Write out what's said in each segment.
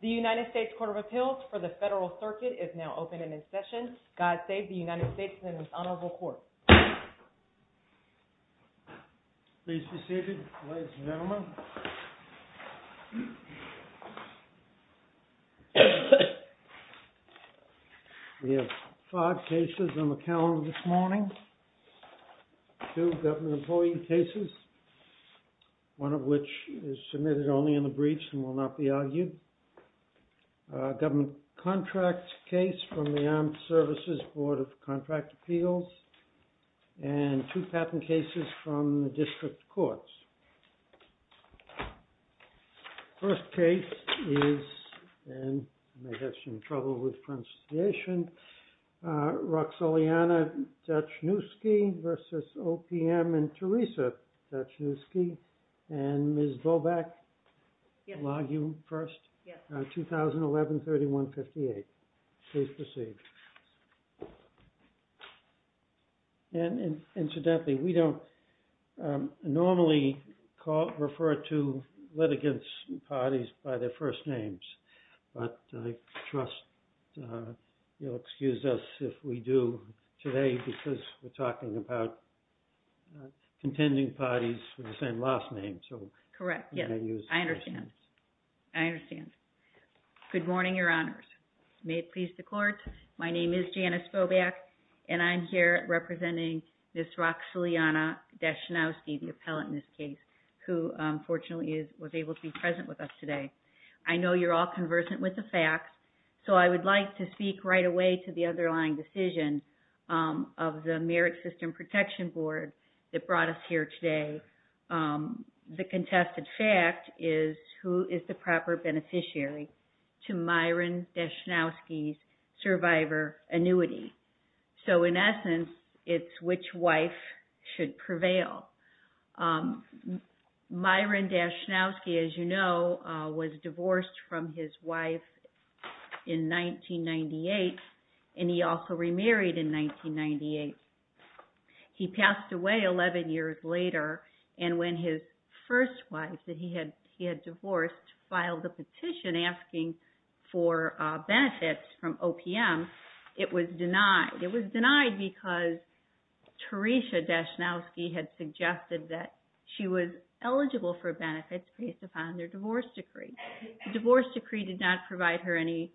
The United States Court of Appeals for the Federal Circuit is now open and in session. God save the United States and its honorable court. Please be seated, ladies and gentlemen. We have five cases on the calendar this morning. Two government employee cases, one of which is submitted only in the briefs and will not be argued. A government contract case from the Armed Services Board of Contract Appeals. And two patent cases from the district courts. First case is, and you may have some trouble with pronunciation, Roxoliana Dachniwsky v. OPM and Teresa Dachniwsky. And Ms. Bobak, will I argue first? Yes. 2011-3158. Please proceed. And incidentally, we don't normally call, refer to litigants' parties by their first names. But I trust you'll excuse us if we do today because we're talking about contending parties with the same last name. Correct, yes. I understand. I understand. Good morning, your honors. May it please the court. My name is Janice Bobak and I'm here representing Ms. Roxoliana Dachniwsky, the appellant in this case, who fortunately was able to be present with us today. I know you're all conversant with the facts, so I would like to speak right away to the underlying decision of the Merit System Protection Board that brought us here today. The contested fact is who is the proper beneficiary to Myron Dachniwsky's survivor annuity. So in essence, it's which wife should prevail. Myron Dachniwsky, as you know, was divorced from his wife in 1998, and he also remarried in 1998. He passed away 11 years later, and when his first wife that he had divorced filed a petition asking for benefits from OPM, it was denied. It was denied because Teresa Dachniwsky had suggested that she was eligible for benefits based upon their divorce decree. The divorce decree did not provide her any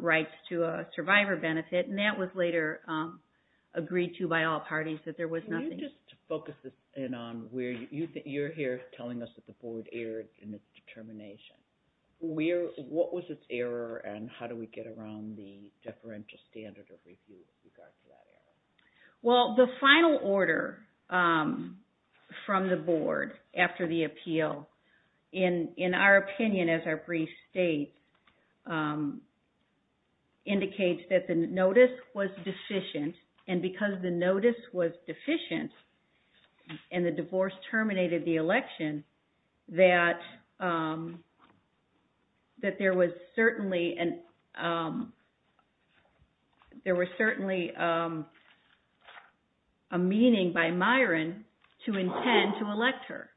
rights to a survivor benefit, and that was later agreed to by all parties that there was nothing... Can you just focus this in on where you're here telling us that the board erred in its determination. What was its error, and how do we get around the deferential standard of review in regards to that error? Well, the final order from the board after the appeal, in our opinion as our brief state, indicates that the notice was deficient, and because the notice was deficient and the divorce terminated the election, that there was certainly a meaning by Myron to intend to elect her.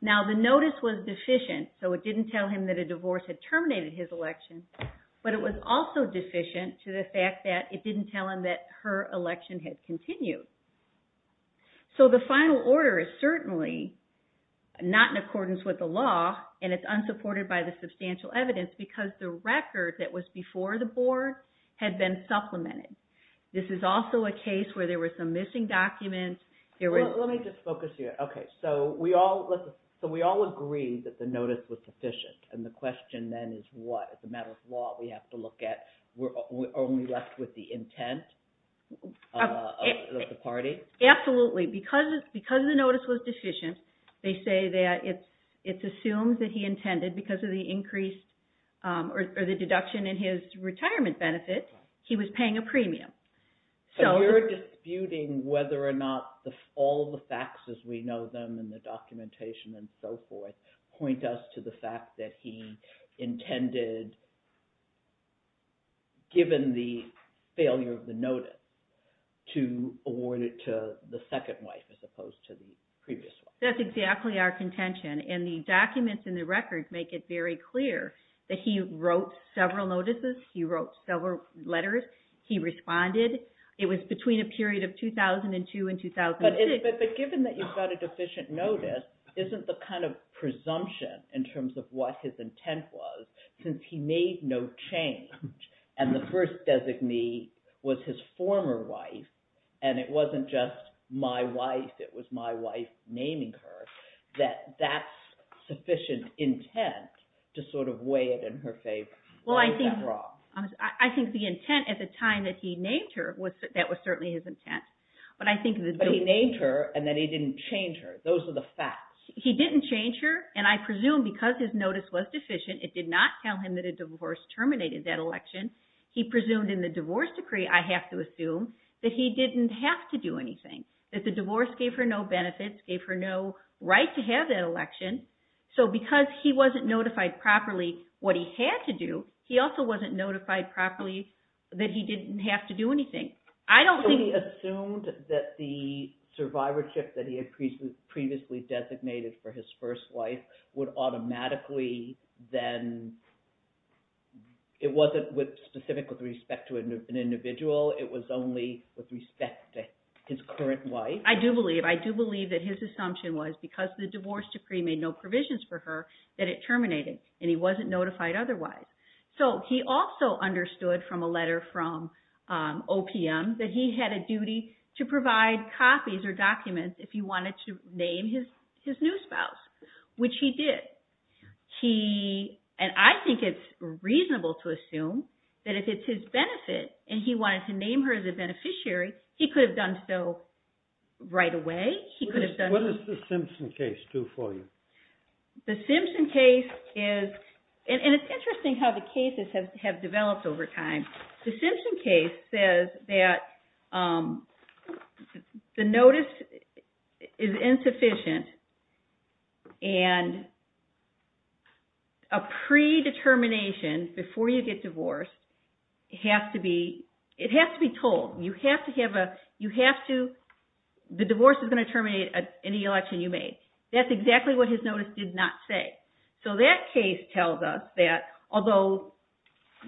Now, the notice was deficient, so it didn't tell him that a divorce had terminated his election, but it was also deficient to the fact that it didn't tell him that her election had continued. So the final order is certainly not in accordance with the law, and it's unsupported by the substantial evidence because the record that was before the board had been supplemented. This is also a case where there were some missing documents. Let me just focus here. Okay. So we all agree that the notice was deficient, and the question then is what? As a matter of law, we have to look at, we're only left with the intent of the party? Absolutely. Because the notice was deficient, they say that it's assumed that he intended, because of the increase or the deduction in his retirement benefit, he was paying a premium. So we're disputing whether or not all the facts as we know them and the documentation and so forth point us to the fact that he intended, given the failure of the notice, to award it to the second wife as opposed to the previous wife. That's exactly our contention, and the documents in the record make it very clear that he wrote several notices, he wrote several letters, he responded. It was between a period of 2002 and 2006. But given that you've got a deficient notice, isn't the kind of presumption in terms of what his intent was, since he made no change, and the first designee was his former wife, and it wasn't just my wife, it was my wife naming her, that that's sufficient intent to sort of weigh it in her favor? I think the intent at the time that he named her, that was certainly his intent. But he named her, and then he didn't change her. Those are the facts. He didn't change her, and I presume because his notice was deficient, it did not tell him that a divorce terminated that election. He presumed in the divorce decree, I have to assume, that he didn't have to do anything, that the divorce gave her no benefits, gave her no right to have that election. So because he wasn't notified properly what he had to do, he also wasn't notified properly that he didn't have to do anything. So he assumed that the survivorship that he had previously designated for his first wife would automatically then, it wasn't specific with respect to an individual, it was only with respect to his current wife? I do believe that his assumption was because the divorce decree made no provisions for her, that it terminated, and he wasn't notified otherwise. So he also understood from a letter from OPM that he had a duty to provide copies or documents if he wanted to name his new spouse, which he did. And I think it's reasonable to assume that if it's his benefit, and he wanted to name her as a beneficiary, he could have done so right away. What does the Simpson case do for you? The Simpson case is, and it's interesting how the cases have developed over time. The Simpson case says that the notice is insufficient and a predetermination before you get divorced, it has to be told. You have to have a, you have to, the divorce is going to terminate any election you made. That's exactly what his notice did not say. So that case tells us that although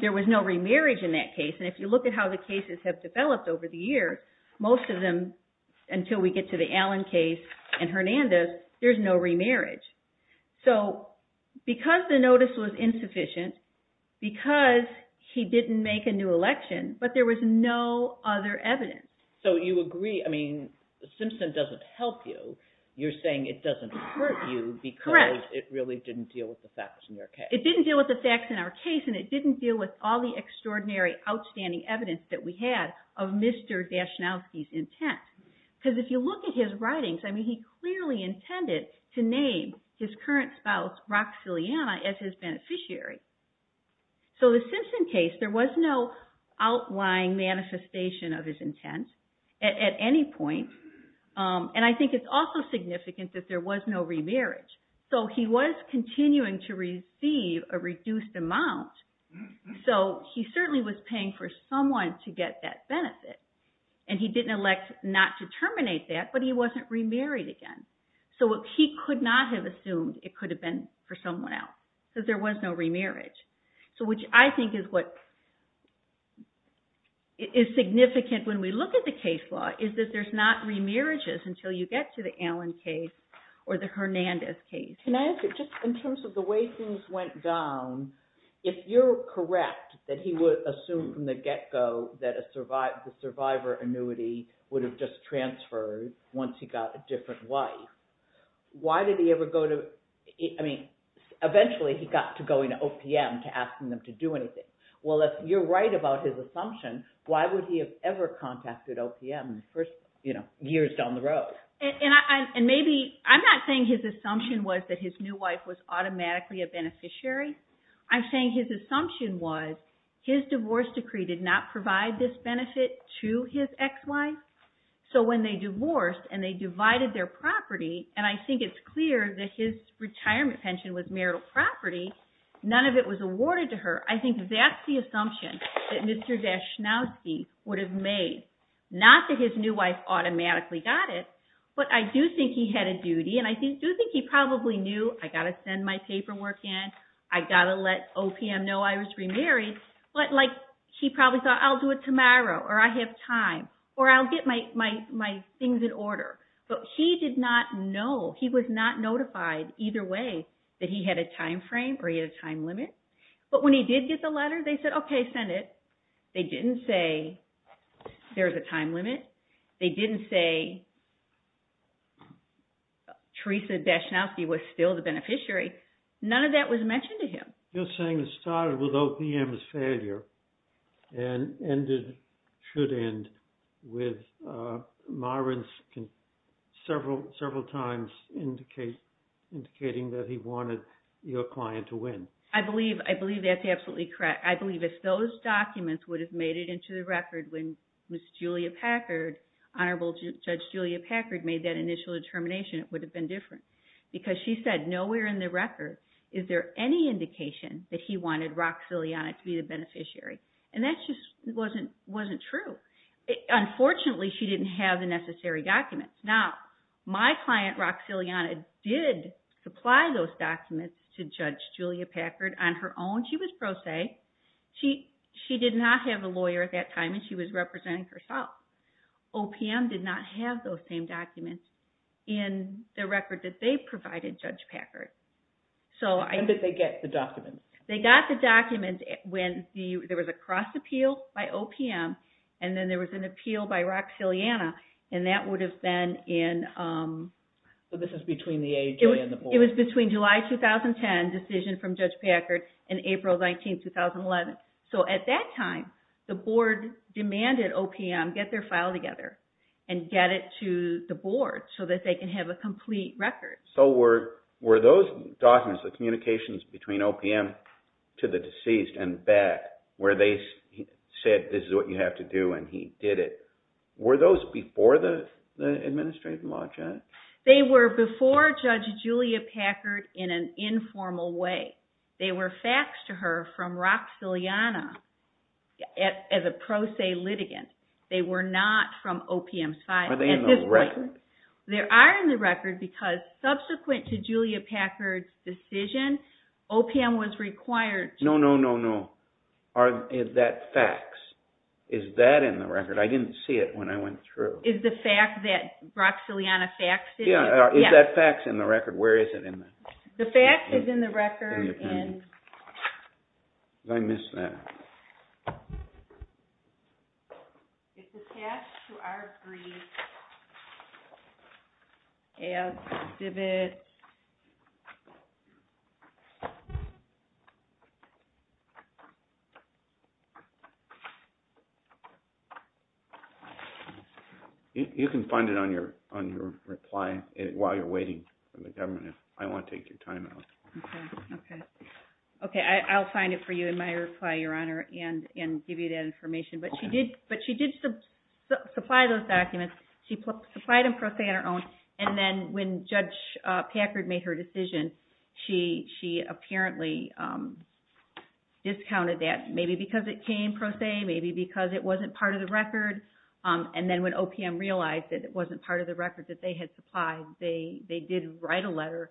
there was no remarriage in that case, and if you look at how the cases have developed over the years, most of them, until we get to the Allen case and Hernandez, there's no remarriage. So because the notice was insufficient, because he didn't make a new election, but there was no other evidence. So you agree, I mean, Simpson doesn't help you. You're saying it doesn't hurt you because it really didn't deal with the facts in your case. Correct. It didn't deal with the facts in our case, and it didn't deal with all the extraordinary, outstanding evidence that we had of Mr. Dashnowski's intent. Because if you look at his writings, I mean, he clearly intended to name his current spouse, Roxiliana, as his beneficiary. So the Simpson case, there was no outlying manifestation of his intent at any point. And I think it's also significant that there was no remarriage. So he was continuing to receive a reduced amount. So he certainly was paying for someone to get that benefit, and he didn't elect not to terminate that, but he wasn't remarried again. So he could not have assumed it could have been for someone else, because there was no remarriage. So which I think is what is significant when we look at the case law, is that there's not remarriages until you get to the Allen case or the Hernandez case. Can I ask you, just in terms of the way things went down, if you're correct, that he would assume from the get-go that the survivor annuity would have just transferred once he got a different wife, why did he ever go to – I mean, eventually he got to going to OPM to ask them to do anything. Well, if you're right about his assumption, why would he have ever contacted OPM in the first years down the road? And maybe – I'm not saying his assumption was that his new wife was automatically a beneficiary. I'm saying his assumption was his divorce decree did not provide this benefit to his ex-wife. So when they divorced and they divided their property, and I think it's clear that his retirement pension was marital property, none of it was awarded to her, I think that's the assumption that Mr. Daschnowski would have made. Not that his new wife automatically got it, but I do think he had a duty, and I do think he probably knew, I got to send my paperwork in, I got to let OPM know I was remarried, but he probably thought, I'll do it tomorrow, or I have time, or I'll get my things in order. But he did not know, he was not notified either way that he had a time frame or he had a time limit. But when he did get the letter, they said, okay, send it. They didn't say there's a time limit. They didn't say Theresa Daschnowski was still the beneficiary. None of that was mentioned to him. You're saying it started with OPM's failure and should end with Marvin several times indicating that he wanted your client to win. I believe that's absolutely correct. I believe if those documents would have made it into the record when Ms. Julia Packard, Honorable Judge Julia Packard, made that initial determination, it would have been different. Because she said, nowhere in the record is there any indication that he wanted Roxiliana to be the beneficiary. And that just wasn't true. Unfortunately, she didn't have the necessary documents. Now, my client, Roxiliana, did supply those documents to Judge Julia Packard on her own. She was pro se. She did not have a lawyer at that time, and she was representing herself. OPM did not have those same documents in the record that they provided Judge Packard. When did they get the documents? They got the documents when there was a cross-appeal by OPM, and then there was an appeal by Roxiliana. And that would have been in... So this is between the age Julia and the board. It was between July 2010, decision from Judge Packard, and April 19, 2011. So at that time, the board demanded OPM get their file together and get it to the board so that they can have a complete record. So were those documents, the communications between OPM to the deceased and back, where they said, this is what you have to do, and he did it, were those before the administrative margin? They were before Judge Julia Packard in an informal way. They were faxed to her from Roxiliana as a pro se litigant. They were not from OPM's file. Are they in the record? They are in the record because subsequent to Julia Packard's decision, OPM was required to... No, no, no, no. Are that facts? Is that in the record? I didn't see it when I went through. Is the fact that Roxiliana faxed it? Yeah, is that faxed in the record? Where is it in there? The fax is in the record. I missed that. It's attached to our brief as exhibits. You can find it on your reply while you're waiting for the government. I want to take your time out. Okay, I'll find it for you in my reply, Your Honor, and give you that information. But she did supply those documents. She supplied them pro se on her own. And then when Judge Packard made her decision, she apparently discounted that, maybe because it came pro se, maybe because it wasn't part of the record. And then when OPM realized that it wasn't part of the record that they had supplied, they did write a letter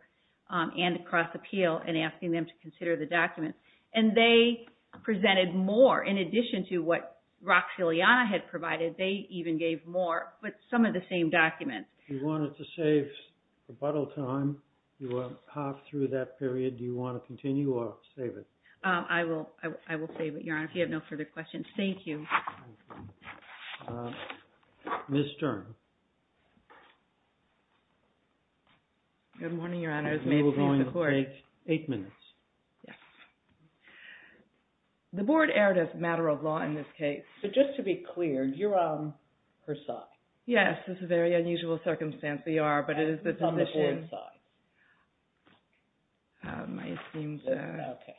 and a cross appeal in asking them to consider the documents. And they presented more in addition to what Roxiliana had provided. They even gave more, but some of the same documents. If you wanted to save rebuttal time, you want to hop through that period. Do you want to continue or save it? I will save it, Your Honor, if you have no further questions. Thank you. Ms. Stern. Good morning, Your Honor. We're going to take eight minutes. Yes. The Board erred as a matter of law in this case. But just to be clear, you're on her side. Yes, this is a very unusual circumstance. We are, but it is the position. It's on the Board's side. I assumed that. Okay.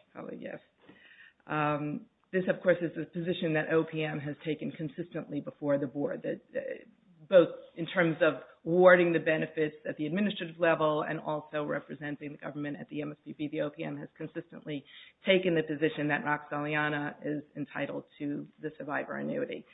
This, of course, is the position that OPM has taken consistently before the Board, both in terms of awarding the benefits at the administrative level and also representing the government at the MSPP. The OPM has consistently taken the position that Roxiliana is entitled to the survivor annuity.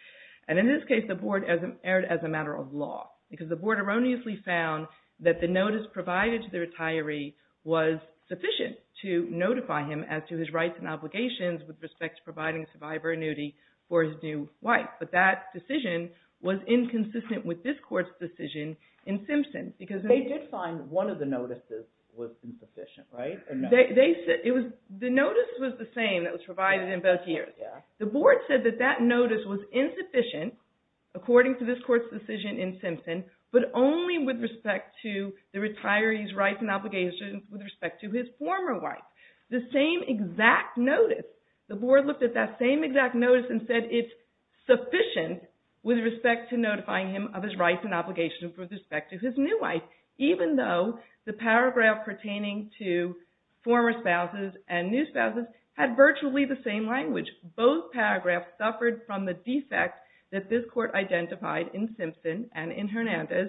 And in this case, the Board erred as a matter of law because the Board erroneously found that the notice provided to the retiree was sufficient to notify him as to his rights and obligations with respect to providing survivor annuity for his new wife. Yes, but that decision was inconsistent with this Court's decision in Simpson. They did find one of the notices was insufficient, right? The notice was the same that was provided in both years. The Board said that that notice was insufficient, according to this Court's decision in Simpson, but only with respect to the retiree's rights and obligations with respect to his former wife. The same exact notice. The Board looked at that same exact notice and said it's sufficient with respect to notifying him of his rights and obligations with respect to his new wife, even though the paragraph pertaining to former spouses and new spouses had virtually the same language. Both paragraphs suffered from the defect that this Court identified in Simpson and in Hernandez.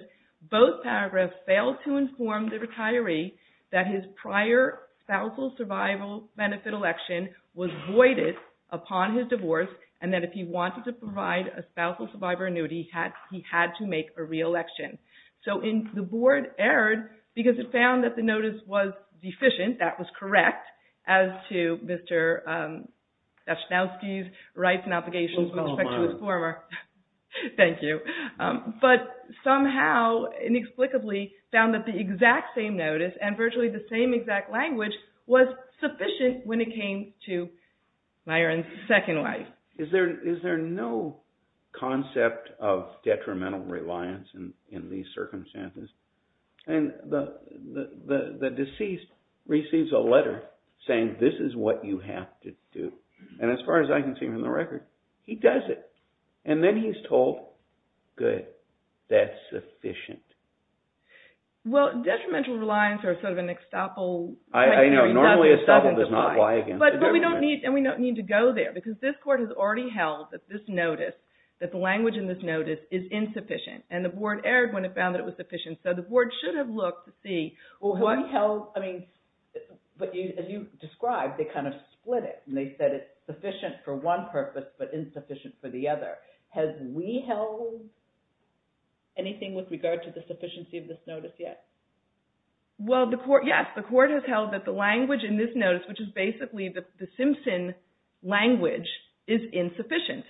Both paragraphs failed to inform the retiree that his prior spousal survival benefit election was voided upon his divorce and that if he wanted to provide a spousal survivor annuity, he had to make a re-election. So the Board erred because it found that the notice was deficient, that was correct, as to Mr. Dasznowski's rights and obligations with respect to his former wife. Thank you. But somehow, inexplicably, found that the exact same notice and virtually the same exact language was sufficient when it came to Myron's second wife. Is there no concept of detrimental reliance in these circumstances? And the deceased receives a letter saying this is what you have to do. And as far as I can see from the record, he does it. And then he's told, good, that's sufficient. Well, detrimental reliance is sort of an estoppel. I know. Normally estoppel does not apply against it. But we don't need to go there because this Court has already held that this notice, that the language in this notice is insufficient. And the Board erred when it found that it was sufficient. So the Board should have looked to see what… Well, they held, I mean, as you described, they kind of split it. And they said it's sufficient for one purpose but insufficient for the other. Has we held anything with regard to the sufficiency of this notice yet? Well, yes, the Court has held that the language in this notice, which is basically the Simpson language, is insufficient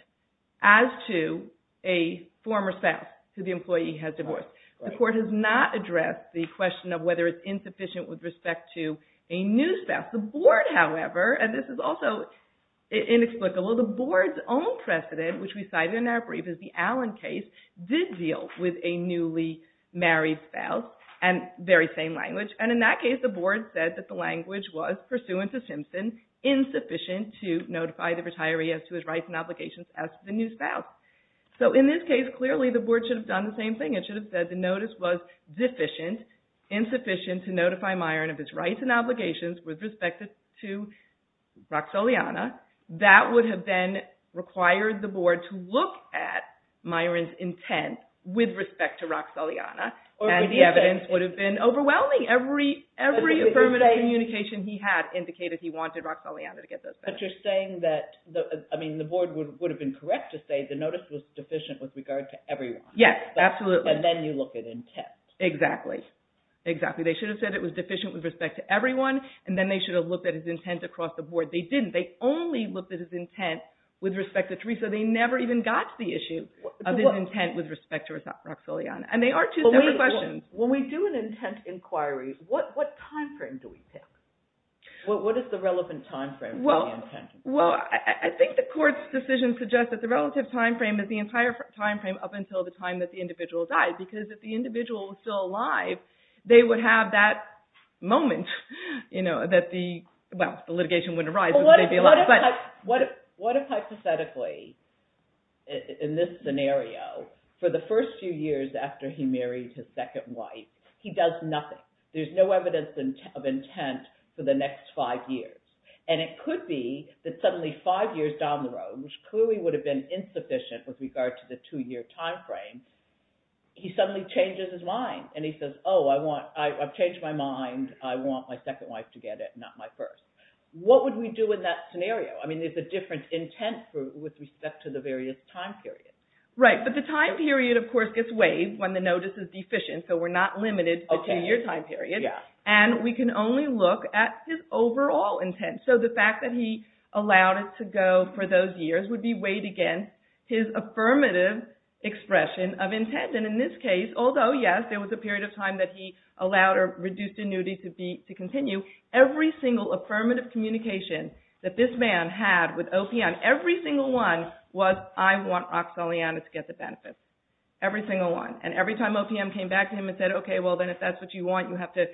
as to a former spouse who the employee has divorced. The Court has not addressed the question of whether it's insufficient with respect to a new spouse. The Board, however, and this is also inexplicable, the Board's own precedent, which we cited in our brief as the Allen case, did deal with a newly married spouse and very same language. And in that case, the Board said that the language was, pursuant to Simpson, insufficient to notify the retiree as to his rights and obligations as to the new spouse. So in this case, clearly the Board should have done the same thing. It should have said the notice was deficient, insufficient to notify Myron of his rights and obligations with respect to Roxoliana. That would have then required the Board to look at Myron's intent with respect to Roxoliana. And the evidence would have been overwhelming. Every affirmative communication he had indicated he wanted Roxoliana to get those benefits. But you're saying that, I mean, the Board would have been correct to say the notice was deficient with regard to everyone. Yes, absolutely. But then you look at intent. Exactly. Exactly. They should have said it was deficient with respect to everyone, and then they should have looked at his intent across the Board. They didn't. They only looked at his intent with respect to Teresa. They never even got to the issue of his intent with respect to Roxoliana. And they are two separate questions. When we do an intent inquiry, what timeframe do we pick? What is the relevant timeframe for the intent inquiry? Well, I think the Court's decision suggests that the relative timeframe is the entire timeframe up until the time that the individual died. Because if the individual was still alive, they would have that moment that the litigation wouldn't arise. What if hypothetically, in this scenario, for the first few years after he married his second wife, he does nothing? There's no evidence of intent for the next five years. And it could be that suddenly five years down the road, which clearly would have been insufficient with regard to the two-year timeframe, he suddenly changes his mind. And he says, oh, I've changed my mind. I want my second wife to get it, not my first. What would we do in that scenario? I mean, there's a different intent with respect to the various time periods. Right. But the time period, of course, gets waived when the notice is deficient. So we're not limited to the two-year time period. And we can only look at his overall intent. So the fact that he allowed it to go for those years would be weighed against his affirmative expression of intent. And in this case, although, yes, there was a period of time that he allowed or reduced annuity to continue, every single affirmative communication that this man had with OPM, every single one, was, I want Roxanne Leana to get the benefit. Every single one. And every time OPM came back to him and said, okay, well, then if that's what you want, you have to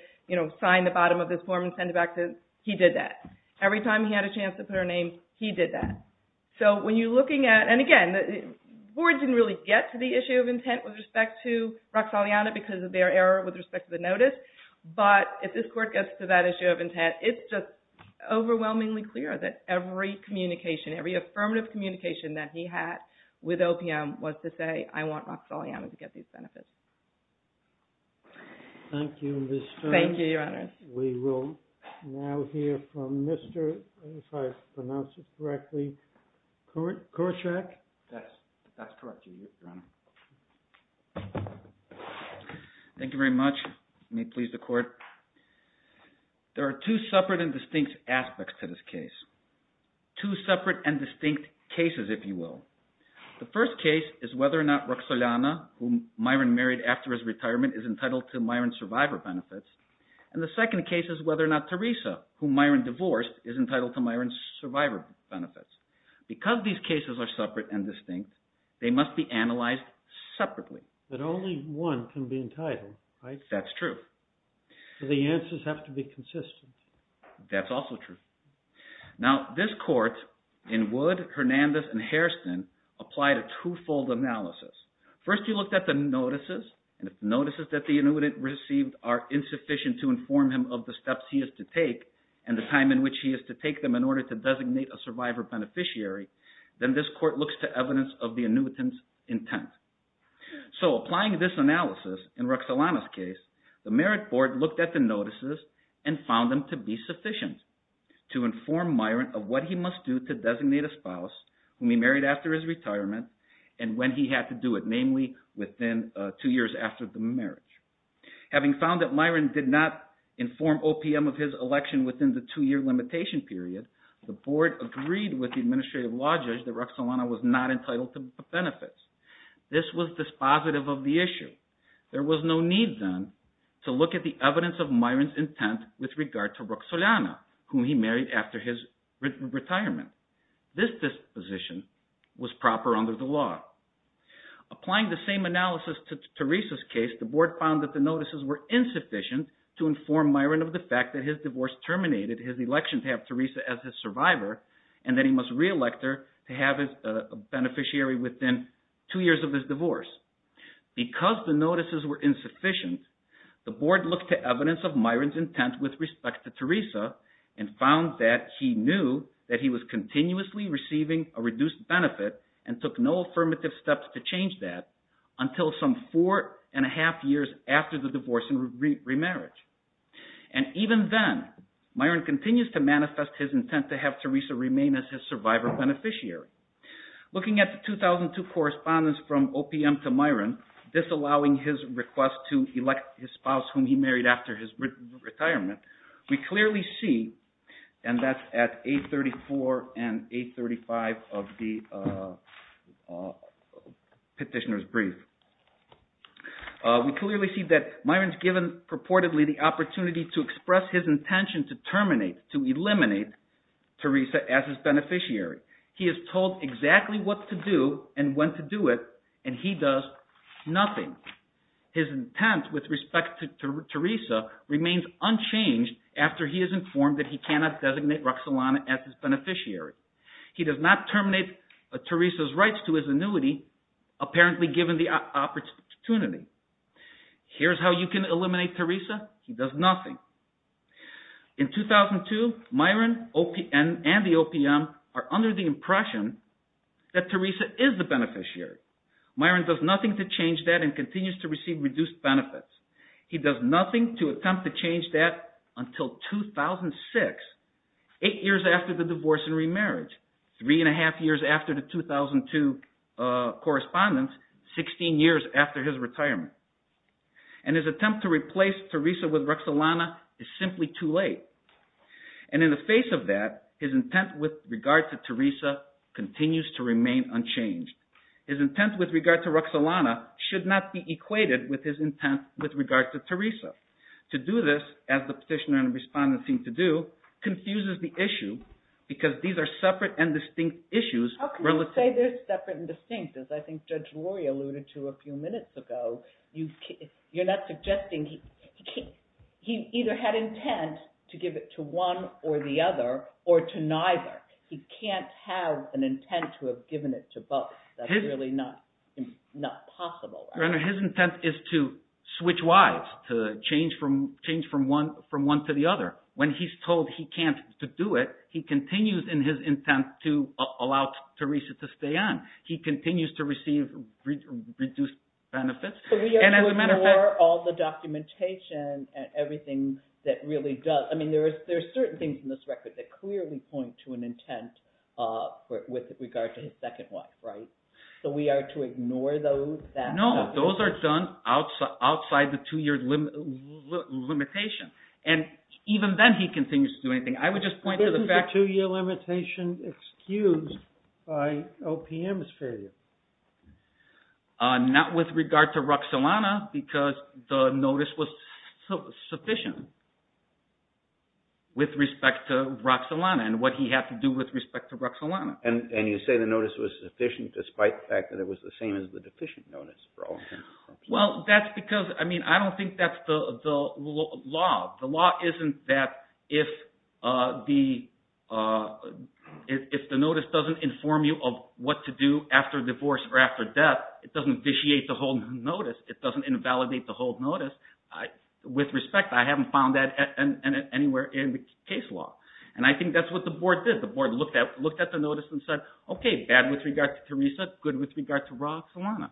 sign the bottom of this form and send it back to him, he did that. Every time he had a chance to put her name, he did that. So when you're looking at, and again, the board didn't really get to the issue of intent with respect to Roxanne Leana because of their error with respect to the notice. But if this court gets to that issue of intent, it's just overwhelmingly clear that every communication, every affirmative communication that he had with OPM was to say, I want Roxanne Leana to get these benefits. Thank you, Ms. Stern. Thank you, Your Honors. We will now hear from Mr. if I pronounced it correctly, Korczak. That's correct, Your Honor. Thank you very much. You may please the court. There are two separate and distinct aspects to this case, two separate and distinct cases, if you will. The first case is whether or not Roxanne Leana, whom Myron married after his retirement, is entitled to Myron's survivor benefits. And the second case is whether or not Teresa, whom Myron divorced, is entitled to Myron's survivor benefits. Because these cases are separate and distinct, they must be analyzed separately. But only one can be entitled, right? That's true. So the answers have to be consistent. That's also true. Now, this court in Wood, Hernandez, and Hairston applied a two-fold analysis. First, he looked at the notices. And if the notices that the annuitant received are insufficient to inform him of the steps he is to take and the time in which he is to take them in order to designate a survivor beneficiary, then this court looks to evidence of the annuitant's intent. So applying this analysis in Roxanne Leana's case, the Merit Board looked at the notices and found them to be sufficient to inform Myron of what he must do to designate a spouse whom he married after his retirement and when he had to do it, namely within two years after the marriage. Having found that Myron did not inform OPM of his election within the two-year limitation period, the board agreed with the administrative law judge that Roxanne Leana was not entitled to benefits. This was dispositive of the issue. There was no need, then, to look at the evidence of Myron's intent with regard to Roxanne Leana, whom he married after his retirement. This disposition was proper under the law. Applying the same analysis to Teresa's case, the board found that the notices were insufficient to inform Myron of the fact that his divorce terminated his election to have Teresa as his survivor and that he must re-elect her to have a beneficiary within two years of his divorce. Because the notices were insufficient, the board looked to evidence of Myron's intent with respect to Teresa and found that he knew that he was continuously receiving a reduced benefit and took no affirmative steps to change that until some four and a half years after the divorce and remarriage. And even then, Myron continues to manifest his intent to have Teresa remain as his survivor beneficiary. Looking at the 2002 correspondence from OPM to Myron disallowing his request to elect his spouse whom he married after his retirement, we clearly see, and that's at 834 and 835 of the petitioner's brief. We clearly see that Myron's given purportedly the opportunity to express his intention to terminate, to eliminate Teresa as his beneficiary. He is told exactly what to do and when to do it, and he does nothing. His intent with respect to Teresa remains unchanged after he is informed that he cannot designate Roxalana as his beneficiary. He does not terminate Teresa's rights to his annuity, apparently given the opportunity. Here's how you can eliminate Teresa. He does nothing. In 2002, Myron and the OPM are under the impression that Teresa is the beneficiary. Myron does nothing to change that and continues to receive reduced benefits. He does nothing to attempt to change that until 2006, eight years after the divorce and remarriage, three and a half years after the 2002 correspondence, 16 years after his retirement. And his attempt to replace Teresa with Roxalana is simply too late. And in the face of that, his intent with regard to Teresa continues to remain unchanged. His intent with regard to Roxalana should not be equated with his intent with regard to Teresa. To do this, as the petitioner and respondent seem to do, confuses the issue because these are separate and distinct issues. How can you say they're separate and distinct? As I think Judge Rory alluded to a few minutes ago, you're not suggesting he either had intent to give it to one or the other or to neither. He can't have an intent to have given it to both. That's really not possible. Your Honor, his intent is to switch wives, to change from one to the other. When he's told he can't do it, he continues in his intent to allow Teresa to stay on. He continues to receive reduced benefits. So we have to ignore all the documentation and everything that really does – I mean, there are certain things in this record that clearly point to an intent with regard to his second wife, right? So we are to ignore those? No, those are done outside the two-year limitation. And even then he continues to do anything. I would just point to the fact – This is a two-year limitation excused by OPM's failure. Not with regard to Roxolana because the notice was sufficient with respect to Roxolana and what he had to do with respect to Roxolana. And you say the notice was sufficient despite the fact that it was the same as the deficient notice for all three. Well, that's because – I mean, I don't think that's the law. The law isn't that if the notice doesn't inform you of what to do after divorce or after death, it doesn't vitiate the whole notice. It doesn't invalidate the whole notice. With respect, I haven't found that anywhere in the case law. And I think that's what the board did. The board looked at the notice and said, okay, bad with regard to Teresa, good with regard to Roxolana.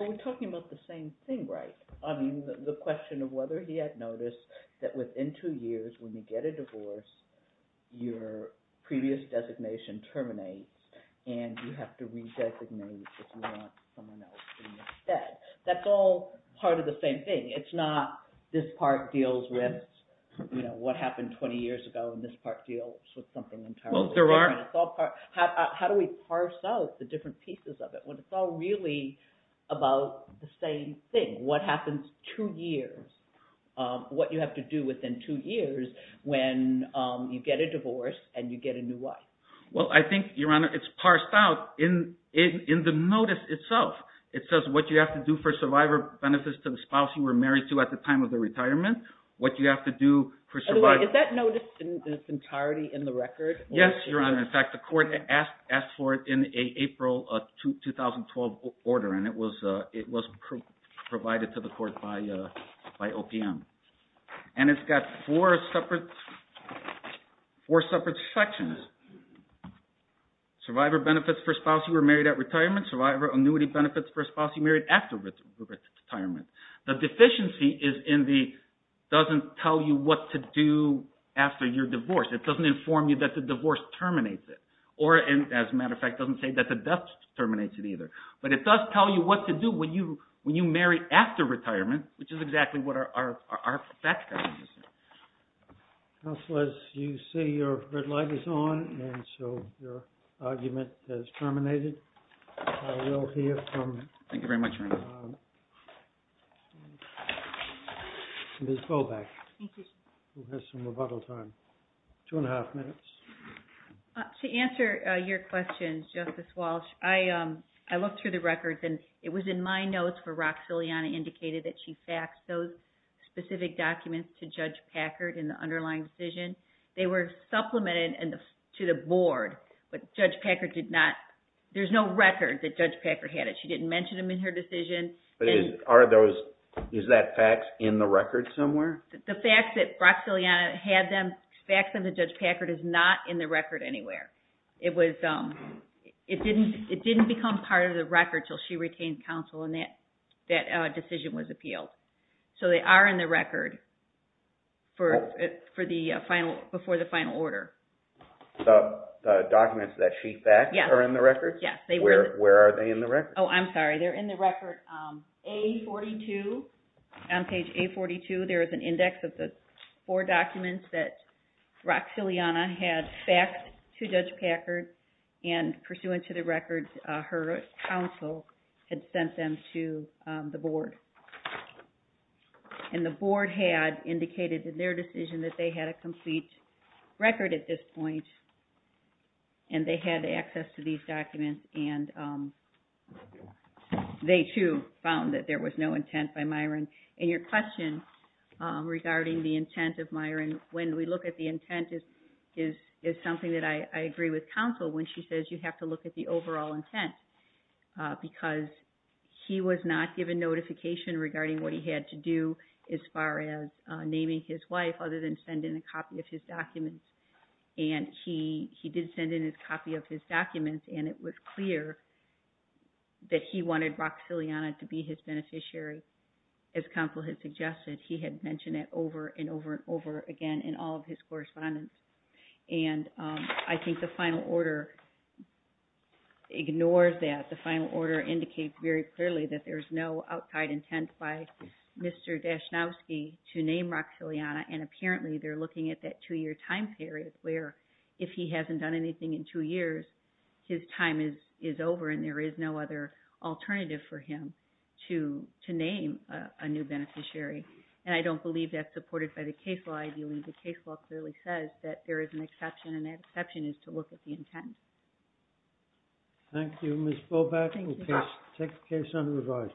Well, we're talking about the same thing, right? I mean the question of whether he had noticed that within two years when you get a divorce, your previous designation terminates and you have to redesignate if you want someone else to do it instead. That's all part of the same thing. It's not this part deals with what happened 20 years ago, and this part deals with something entirely different. How do we parse out the different pieces of it when it's all really about the same thing? What happens two years, what you have to do within two years when you get a divorce and you get a new wife? Well, I think, Your Honor, it's parsed out in the notice itself. It says what you have to do for survivor benefits to the spouse you were married to at the time of the retirement, what you have to do for – Is that notice in its entirety in the record? Yes, Your Honor. In fact, the court asked for it in an April 2012 order, and it was provided to the court by OPM. And it's got four separate sections. Survivor benefits for a spouse you were married at retirement. Survivor annuity benefits for a spouse you married after retirement. The deficiency doesn't tell you what to do after your divorce. It doesn't inform you that the divorce terminates it. Or, as a matter of fact, it doesn't say that the death terminates it either. But it does tell you what to do when you marry after retirement, which is exactly what our facts are suggesting. Counselors, you see your red light is on, and so your argument is terminated. Thank you very much, Your Honor. Ms. Boback, who has some rebuttal time. Two and a half minutes. To answer your question, Justice Walsh, I looked through the records, and it was in my notes where Roxiliana indicated that she faxed those specific documents to Judge Packard in the underlying decision. They were supplemented to the board, but there's no record that Judge Packard had it. She didn't mention them in her decision. Is that faxed in the record somewhere? The fax that Roxiliana had them faxed them to Judge Packard is not in the record anywhere. It didn't become part of the record until she retained counsel and that decision was appealed. So they are in the record before the final order. The documents that she faxed are in the record? Yes. Where are they in the record? Oh, I'm sorry. They're in the record. On page A42, there is an index of the four documents that Roxiliana had faxed to Judge Packard and pursuant to the record, her counsel had sent them to the board. And the board had indicated in their decision that they had a complete record at this point, and they had access to these documents, and they too found that there was no intent by Myron. And your question regarding the intent of Myron, when we look at the intent, is something that I agree with counsel when she says you have to look at the overall intent. Because he was not given notification regarding what he had to do as far as naming his wife other than send in a copy of his documents. And he did send in a copy of his documents, and it was clear that he wanted Roxiliana to be his beneficiary. As counsel had suggested, he had mentioned it over and over and over again in all of his correspondence. And I think the final order ignores that. The final order indicates very clearly that there is no outside intent by Mr. Dasznowski to name Roxiliana. And apparently they're looking at that two-year time period where if he hasn't done anything in two years, his time is over and there is no other alternative for him to name a new beneficiary. And I don't believe that's supported by the case law. I believe the case law clearly says that there is an exception, and that exception is to look at the intent. Thank you, Ms. Boback. We'll take the case under review.